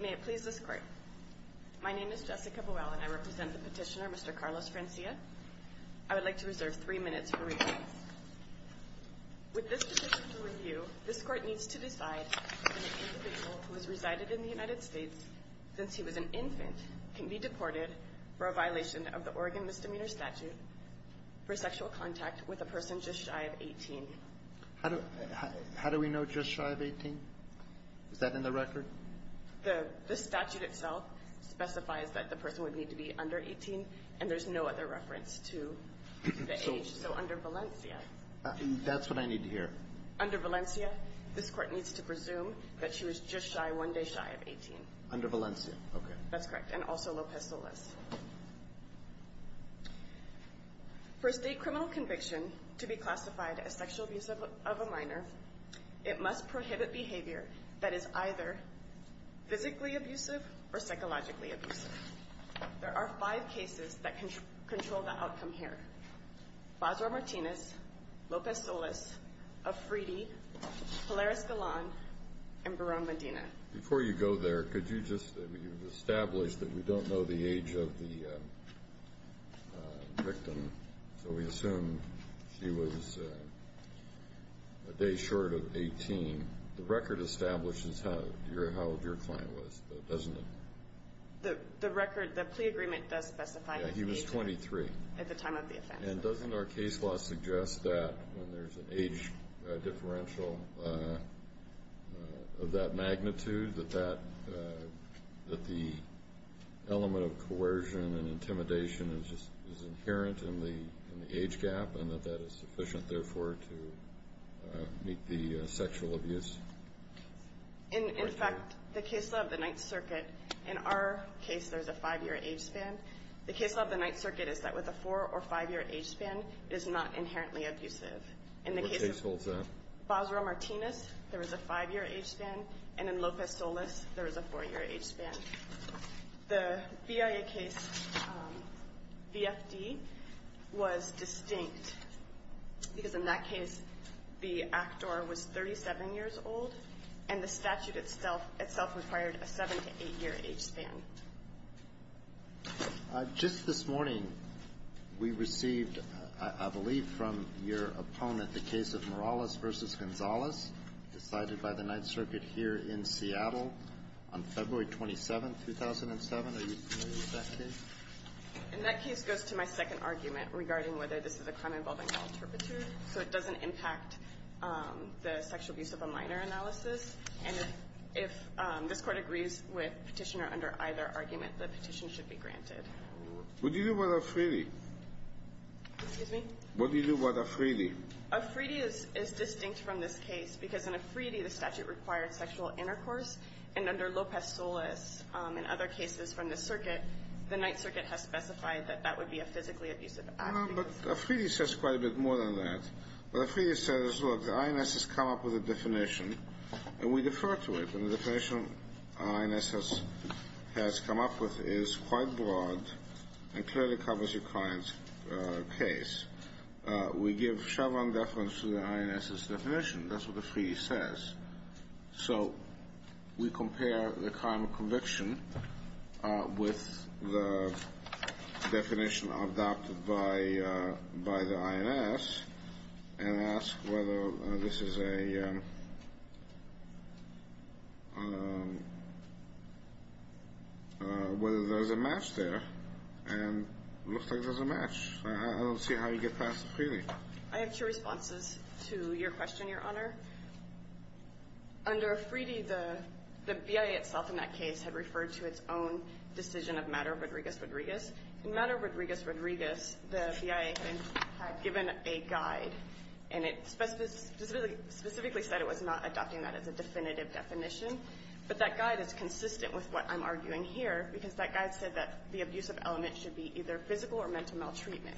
May it please this Court. My name is Jessica Buell and I represent the petitioner, Mr. Carlos Francia. I would like to reserve three minutes for review. With this petition to review, this Court needs to decide if an individual who has resided in the United States since he was an infant can be deported for a violation of the Oregon Misdemeanor Statute for sexual contact with a person just shy of 18. How do we know just shy of 18? Is that in the record? The statute itself specifies that the person would need to be under 18 and there's no other reference to the age. So under Valencia. That's what I need to hear. Under Valencia, this Court needs to presume that she was just shy, one day shy of 18. Under Valencia, okay. That's correct. And also Lopez-Solis. For a state criminal conviction to be classified as sexual abuse of a minor, it must prohibit behavior that is either physically abusive or psychologically abusive. There are five cases that control the outcome here. Basra Martinez, Lopez-Solis, Afridi, Pilar Escalon, and Barone Medina. Before you go there, could you just establish that we don't know the age of the victim? So we assume she was a day short of 18. The record establishes how old your client was, doesn't it? The record, the plea agreement does specify that he was 23 at the time of the offense. And doesn't our case law suggest that when there's an age differential of that magnitude, that the element of coercion and intimidation is inherent in the age gap and that that is sufficient, therefore, to meet the sexual abuse? In fact, the case law of the Ninth Circuit, in our case, there's a five-year age span. The case law of the Ninth Circuit is that with a four or five-year age span, it is not inherently abusive. What case holds that? In the case of Basra Martinez, there is a five-year age span, and in Lopez-Solis, there is a four-year age span. The BIA case, BFD, was distinct because in that case, the actor was 37 years old, and the statute itself required a seven to eight-year age span. Just this morning, we received, I believe, from your opponent, the case of Morales v. Gonzalez, decided by the Ninth Circuit here in Seattle on February 27, 2007. Are you familiar with that case? And that case goes to my second argument regarding whether this is a crime involving all turpitude, so it doesn't impact the sexual abuse of a minor analysis. And if this Court agrees with Petitioner under either argument, the petition should be granted. What do you do about Afridi? Excuse me? What do you do about Afridi? Afridi is distinct from this case because in Afridi, the statute required sexual intercourse, and under Lopez-Solis and other cases from the circuit, the Ninth Circuit has specified that that would be a physically abusive act. But Afridi says quite a bit more than that. Afridi says, look, the INS has come up with a definition, and we defer to it, and the definition the INS has come up with is quite broad and clearly covers your client's case. We give Chevron deference to the INS's definition. That's what Afridi says. So we compare the crime of conviction with the definition adopted by the INS and ask whether this is a, whether there's a match there, and it looks like there's a match. I don't see how you get past Afridi. I have two responses to your question, Your Honor. Under Afridi, the BIA itself in that case had referred to its own decision of Madero-Rodriguez-Rodriguez. In Madero-Rodriguez-Rodriguez, the BIA had given a guide, and it specifically said it was not adopting that as a definitive definition. But that guide is consistent with what I'm arguing here because that guide said that the abusive element should be either physical or meant to maltreatment.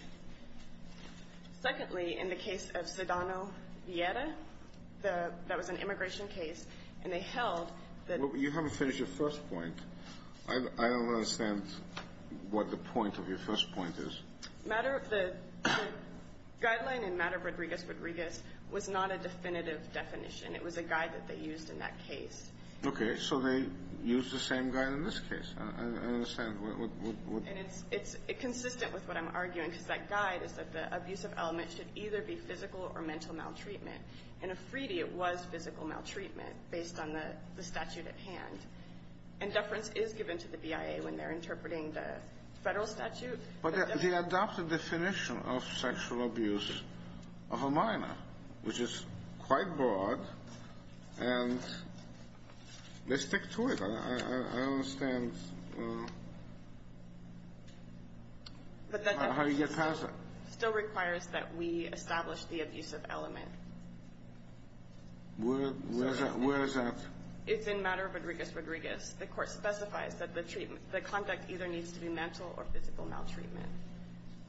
Secondly, in the case of Zidano-Vieira, the, that was an immigration case, and they held that... You haven't finished your first point. I don't understand what the point of your first point is. Madero, the guideline in Madero-Rodriguez-Rodriguez was not a definitive definition. It was a guide that they used in that case. Okay, so they used the same guide in this case. I don't understand. And it's consistent with what I'm arguing because that guide is that the abusive element should either be physical or mental maltreatment. In Afridi, it was physical maltreatment based on the statute at hand. And deference is given to the BIA when they're interpreting the Federal statute. But they adopted the definition of sexual abuse of a minor, which is quite broad, and they stick to it. I don't understand how you get past that. Still requires that we establish the abusive element. Where is that? It's in Madero-Rodriguez-Rodriguez. The court specifies that the treatment, the conduct either needs to be mental or physical maltreatment.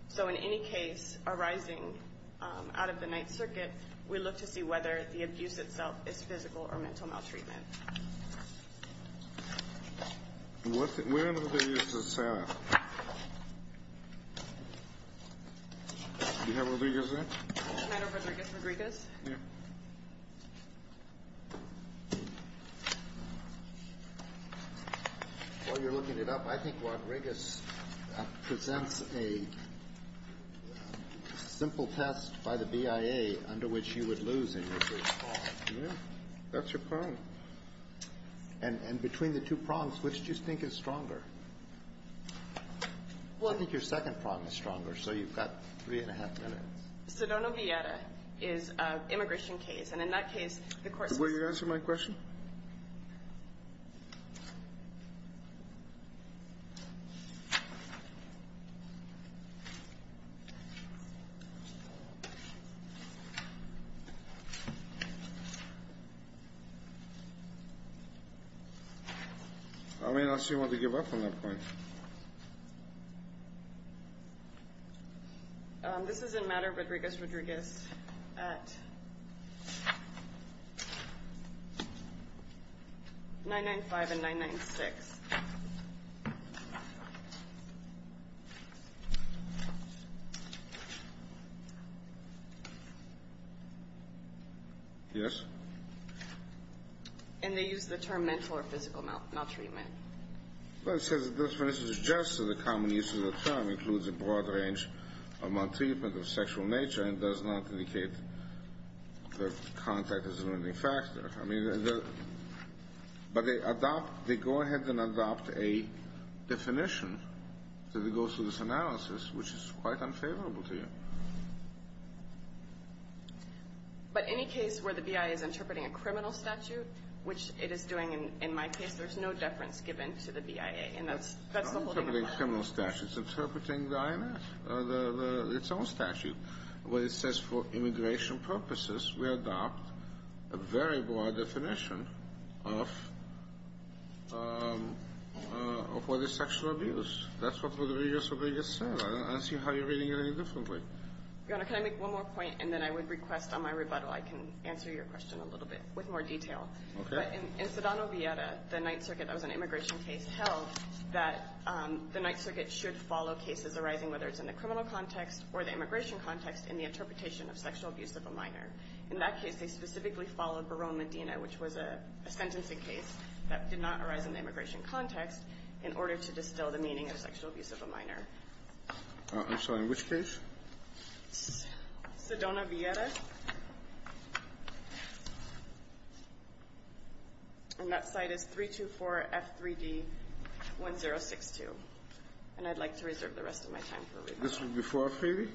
So in any case arising out of the Ninth Circuit, we look to see whether the abuse itself is physical or mental maltreatment. Where in the video is this at? Do you have Rodriguez there? Madero-Rodriguez-Rodriguez? Yeah. While you're looking it up, I think Rodriguez presents a simple test by the BIA under which you would lose a nursery call. Yeah, that's your problem. And between the two problems, which do you think is stronger? Well, I think your second problem is stronger, so you've got three and a half minutes. Sedona-Villera is an immigration case, and in that case, the court says that... Will you answer my question? I may not seem to want to give up on that point. This is in Madero-Rodriguez-Rodriguez at 995 and 996. Yes? And they use the term mental or physical maltreatment. Well, it says that this definition suggests that the common use of the term includes a broad range of maltreatment of sexual nature and does not indicate that contact is a limiting factor. I mean, but they adopt, they go ahead and adopt a definition that goes through this analysis, which is quite unfavorable to you. But any case where the BIA is interpreting a criminal statute, which it is doing in my case, there's no deference given to the BIA, and that's the whole thing. It's not interpreting a criminal statute, it's interpreting the IMF, its own statute, where it says for immigration purposes, we adopt a very broad definition of what is sexual abuse. That's what Rodriguez-Rodriguez said. I don't see how you're reading it any differently. Your Honor, can I make one more point, and then I would request on my rebuttal I can answer your question a little bit with more detail. Okay. In Sedano-Villera, the Ninth Circuit, that was an immigration case, held that the Ninth Circuit should follow cases arising, whether it's in the criminal context or the immigration context, in the interpretation of sexual abuse of a minor. In that case, they specifically followed Barone-Medina, which was a sentencing case that did not arise in the immigration context, in order to distill the meaning of sexual abuse of a minor. I'm sorry. In which case? Sedano-Villera. And that site is 324F3D1062. And I'd like to reserve the rest of my time for rebuttal. This was before Freebie?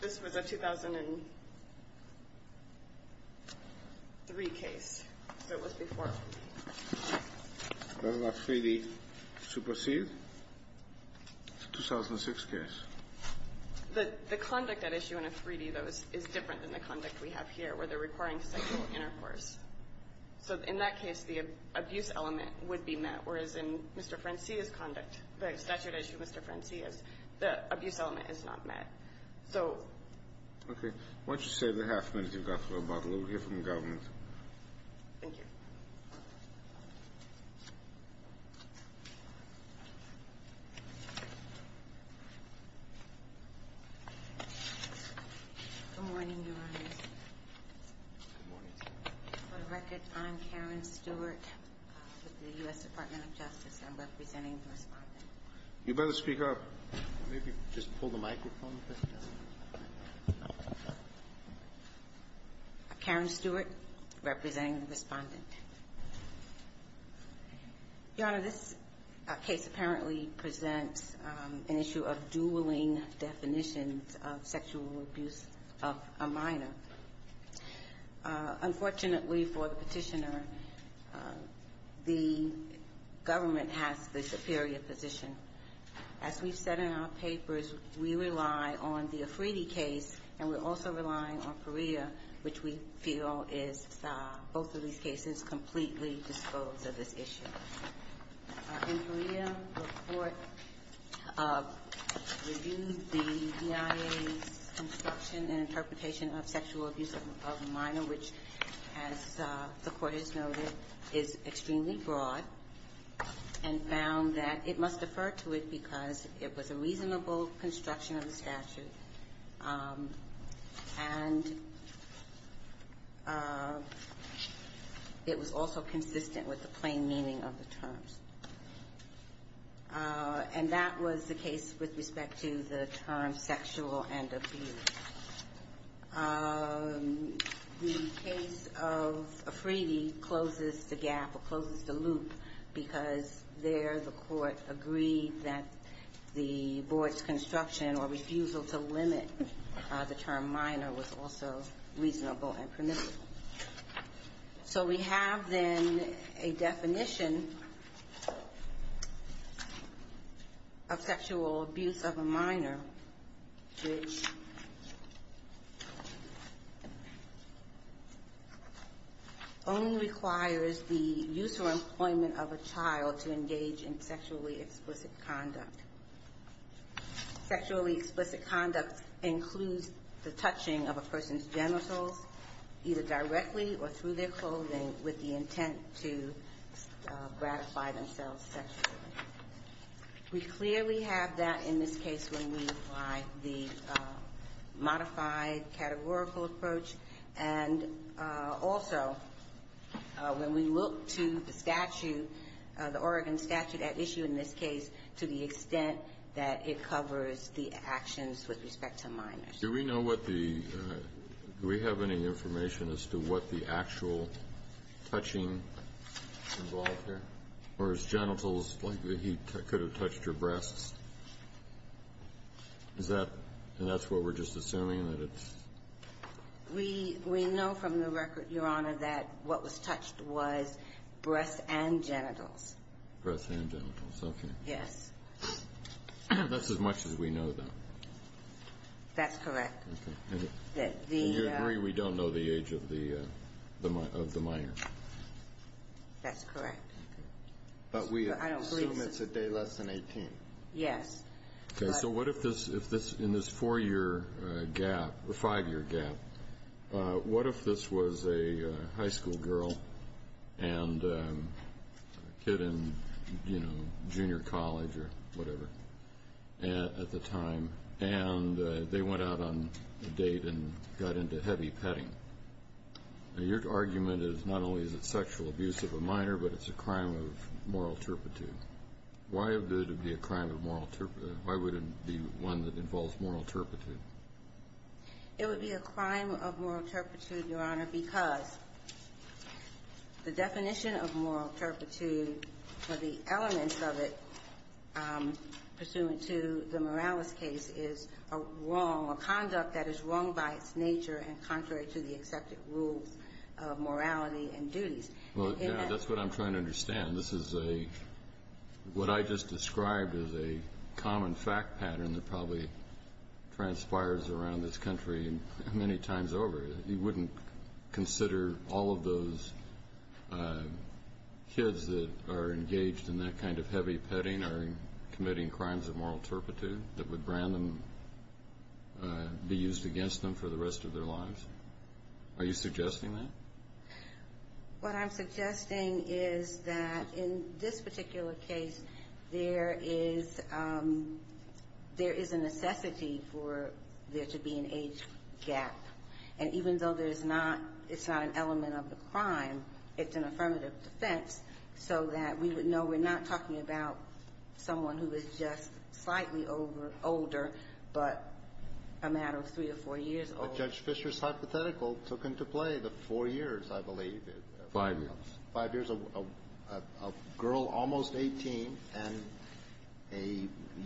This was a 2003 case. So it was before Freebie. That was a Freebie supersede? 2006 case. The conduct at issue in a Freebie, though, is different than the conduct we have here, where they're requiring sexual intercourse. So in that case, the abuse element would be met, whereas in Mr. Francia's conduct, the statute issue of Mr. Francia's, the abuse element is not met. So... Okay. Why don't you save the half minute you've got for rebuttal. We'll hear from the government. Thank you. Good morning, Your Honors. For the record, I'm Karen Stewart with the U.S. Department of Justice, and I'm representing the Respondent. You'd better speak up. Maybe just pull the microphone. Karen Stewart, representing the Respondent. Your Honor, this case apparently presents an issue of dueling definitions of sexual abuse of a minor. Unfortunately for the Petitioner, the government has the superior position. As we've said in our papers, we rely on the Afridi case, and we're also relying on Perea, which we feel is both of these cases. We feel that the government is completely disposed of this issue. In Perea, the Court reviewed the EIA's instruction and interpretation of sexual abuse of a minor, which, as the Court has noted, is extremely broad, and found that it must defer to it because it was a reasonable construction of the statute. And it was also consistent with the plain meaning of the terms. And that was the case with respect to the term sexual and abuse. The case of Afridi closes the gap or closes the loop because there the Court agreed that the board's construction or refusal to limit the term minor was also reasonable and permissible. So we have then a definition of sexual abuse of a minor, which only requires the use or employment of a child to engage in sexually explicit conduct. Sexually explicit conduct includes the touching of a person's genitals, either directly or through their clothing, with the intent to gratify themselves sexually. We clearly have that in this case when we apply the modified categorical approach. And also, when we look to the statute, the Oregon statute at issue in this case, to the extent that it covers the actions with respect to minors. Do we know what the – do we have any information as to what the actual touching involved here? Or is genitals like the heat that could have touched your breasts? Is that – and that's where we're just assuming that it's? We know from the record, Your Honor, that what was touched was breasts and genitals. Breasts and genitals. Okay. Yes. That's as much as we know, though. That's correct. Okay. And you agree we don't know the age of the minor? That's correct. But we assume it's a day less than 18. Yes. Okay. So what if this – in this four-year gap – or five-year gap, what if this was a high school girl and a kid in, you know, junior college or whatever at the time, and they went out on a date and got into heavy petting? Now, your argument is not only is it sexual abuse of a minor, but it's a crime of moral turpitude. Why would it be a crime of moral turpitude? Why would it be one that involves moral turpitude? It would be a crime of moral turpitude, Your Honor, because the definition of moral turpitude or the elements of it, pursuant to the Morales case, is a wrong, a conduct that is wrong by its nature and contrary to the accepted rules of morality and duties. Well, that's what I'm trying to understand. This is a – what I just described is a common fact pattern that probably transpires around this country many times over. You wouldn't consider all of those kids that are engaged in that kind of heavy petting are committing crimes of moral turpitude that would brand them – be used against them for the rest of their lives? Are you suggesting that? What I'm suggesting is that in this particular case, there is a necessity for there to be an age gap. And even though there's not – it's not an element of the crime, it's an affirmative defense so that we would know we're not talking about someone who is just slightly older, but a matter of three or four years old. Well, Judge Fischer's hypothetical took into play the four years, I believe. Five years. Five years. A girl almost 18 and a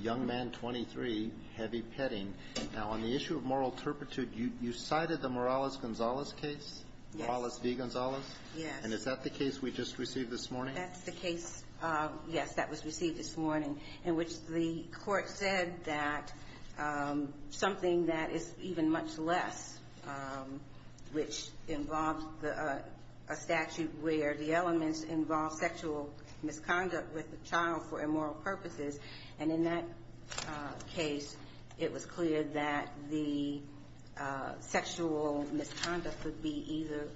young man 23, heavy petting. Now, on the issue of moral turpitude, you cited the Morales-Gonzalez case? Yes. Morales v. Gonzalez? Yes. And is that the case we just received this morning? That's the case, yes, that was received this morning, in which the court said that something that is even much less, which involves a statute where the elements involve sexual misconduct with the child for immoral purposes, and in that case, it was clear that the sexual misconduct would be either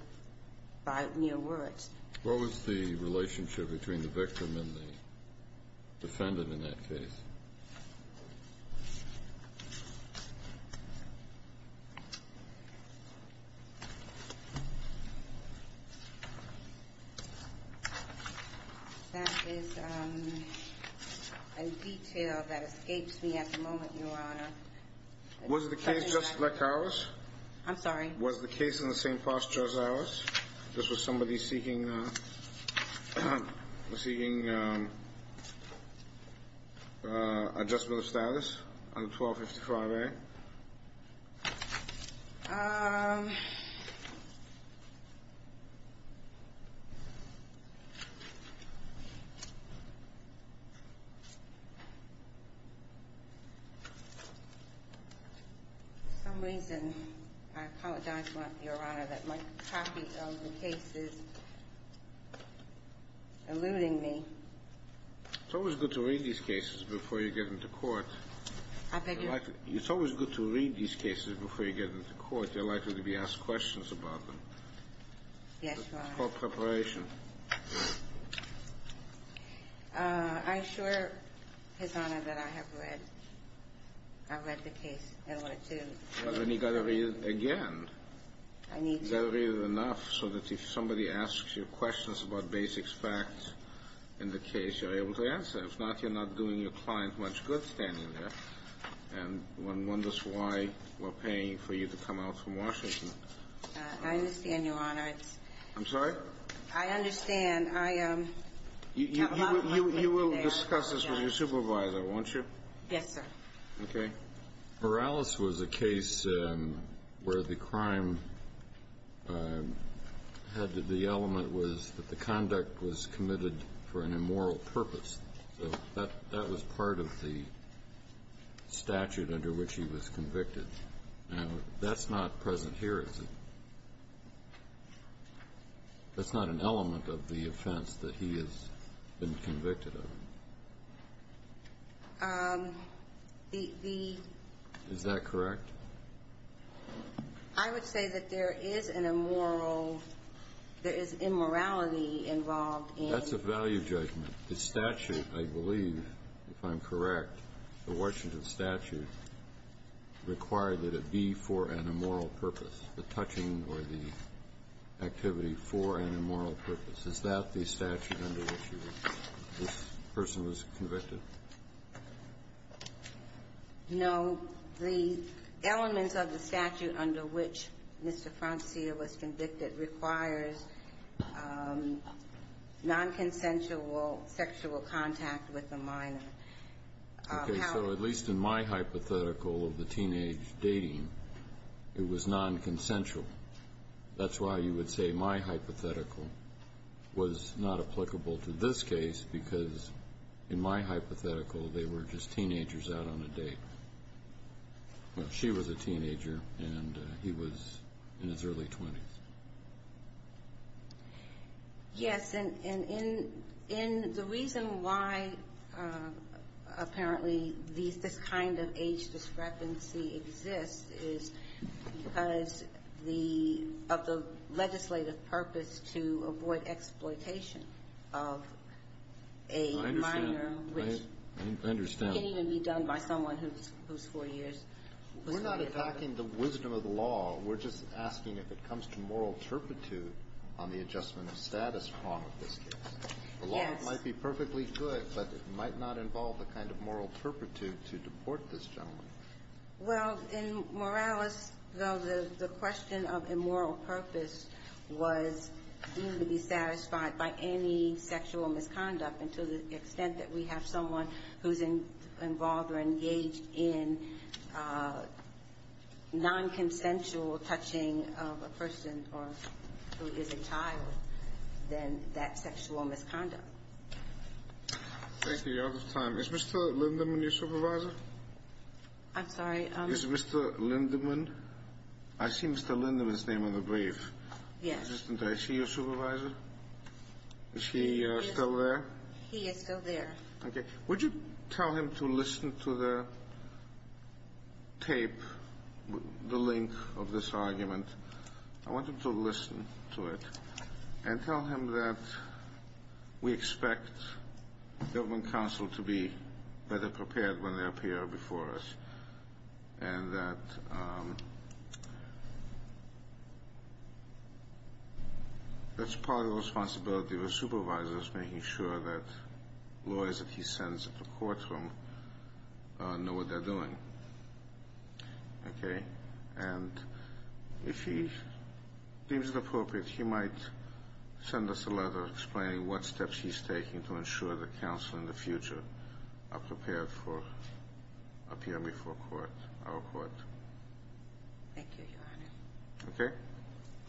by mere words. What was the relationship between the victim and the defendant in that case? That is a detail that escapes me at the moment, Your Honor. Was the case just like ours? I'm sorry? Was the case in the same posture as ours? This was somebody seeking adjustment of status under 1255A? For some reason, I apologize, Your Honor, that my copy of the case is eluding me. It's always good to read these cases before you get into court. I beg your pardon? It's always good to read these cases before you get into court. You're likely to be asked questions about them. Yes, Your Honor. That's called preparation. I assure His Honor that I have read the case, and I wanted to. Well, then you've got to read it again. I need to. You've got to read it enough so that if somebody asks you questions about basic facts in the case, you're able to answer. If not, you're not doing your client much good standing there, and one wonders why we're paying for you to come out from Washington. I understand, Your Honor. I'm sorry? I understand. You will discuss this with your supervisor, won't you? Yes, sir. Okay. Morales was a case where the crime had the element was that the conduct was committed for an immoral purpose. So that was part of the statute under which he was convicted. Now, that's not present here, is it? That's not an element of the offense that he has been convicted of. The ---- Is that correct? I would say that there is an immoral ---- there is immorality involved in ---- That's a value judgment. The statute, I believe, if I'm correct, the Washington statute required that it be for an immoral purpose, the touching or the activity for an immoral purpose. Is that the statute under which this person was convicted? No. The elements of the statute under which Mr. Francia was convicted requires nonconsensual sexual contact with a minor. Okay. So at least in my hypothetical of the teenage dating, it was nonconsensual. That's why you would say my hypothetical was not applicable to this case, because in my hypothetical, they were just teenagers out on a date. Well, she was a teenager, and he was in his early 20s. Yes. And in the reason why, apparently, this kind of age discrepancy exists is because the ---- of the legislative purpose to avoid exploitation of a minor, which ---- I understand. I understand. Can't even be done by someone who's 4 years. We're not attacking the wisdom of the law. We're just asking if it comes to moral turpitude on the adjustment of status prong of this case. Yes. The law might be perfectly good, but it might not involve the kind of moral turpitude to deport this gentleman. Well, in Morales, though, the question of immoral purpose was to be satisfied by any sexual misconduct, and to the extent that we have someone who's involved or engaged in nonconsensual touching of a person who is a child, then that's sexual misconduct. Thank you. You're out of time. Is Mr. Lindemann your supervisor? I'm sorry? Is Mr. Lindemann? I see Mr. Lindemann's name on the brief. Yes. Is he your supervisor? Is he still there? He is still there. Okay. Would you tell him to listen to the tape, the link of this argument? I want him to listen to it and tell him that we expect government counsel to be better prepared when they appear before us, and that that's part of the responsibility of a supervisor is making sure that lawyers that he sends into the courtroom know what they're doing. Okay? And if he deems it appropriate, he might send us a letter explaining what steps he's taking to ensure that counsel in the future are prepared for appearing before court, our court. Thank you, Your Honor. Okay?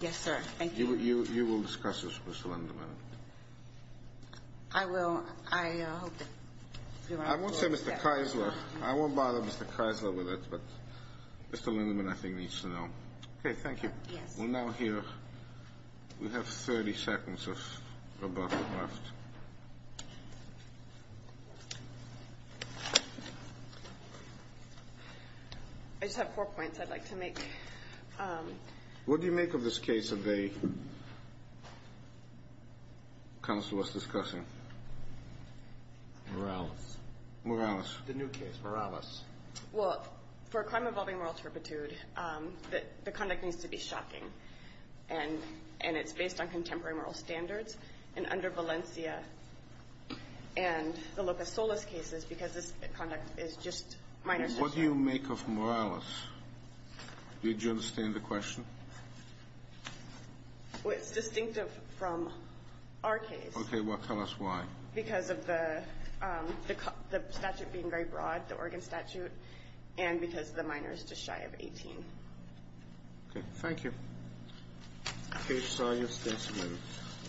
Yes, sir. Thank you. You will discuss this with Mr. Lindemann. I will. I hope that you're right. I won't say Mr. Keisler. I won't bother Mr. Keisler with it, but Mr. Lindemann, I think, needs to know. Okay. Thank you. Yes. We're now here. We have 30 seconds of rebuttal left. I just have four points I'd like to make. What do you make of this case that the counsel was discussing? Morales. Morales. The new case, Morales. Well, for a crime involving moral turpitude, the conduct needs to be shocking, and it's based on contemporary moral standards. And under Valencia and the Lopez-Solas cases, because this conduct is just minor. What do you make of Morales? Did you understand the question? Well, it's distinctive from our case. Okay. Well, tell us why. Because of the statute being very broad, the Oregon statute, and because the minor is just shy of 18. Okay. Thank you. Okay.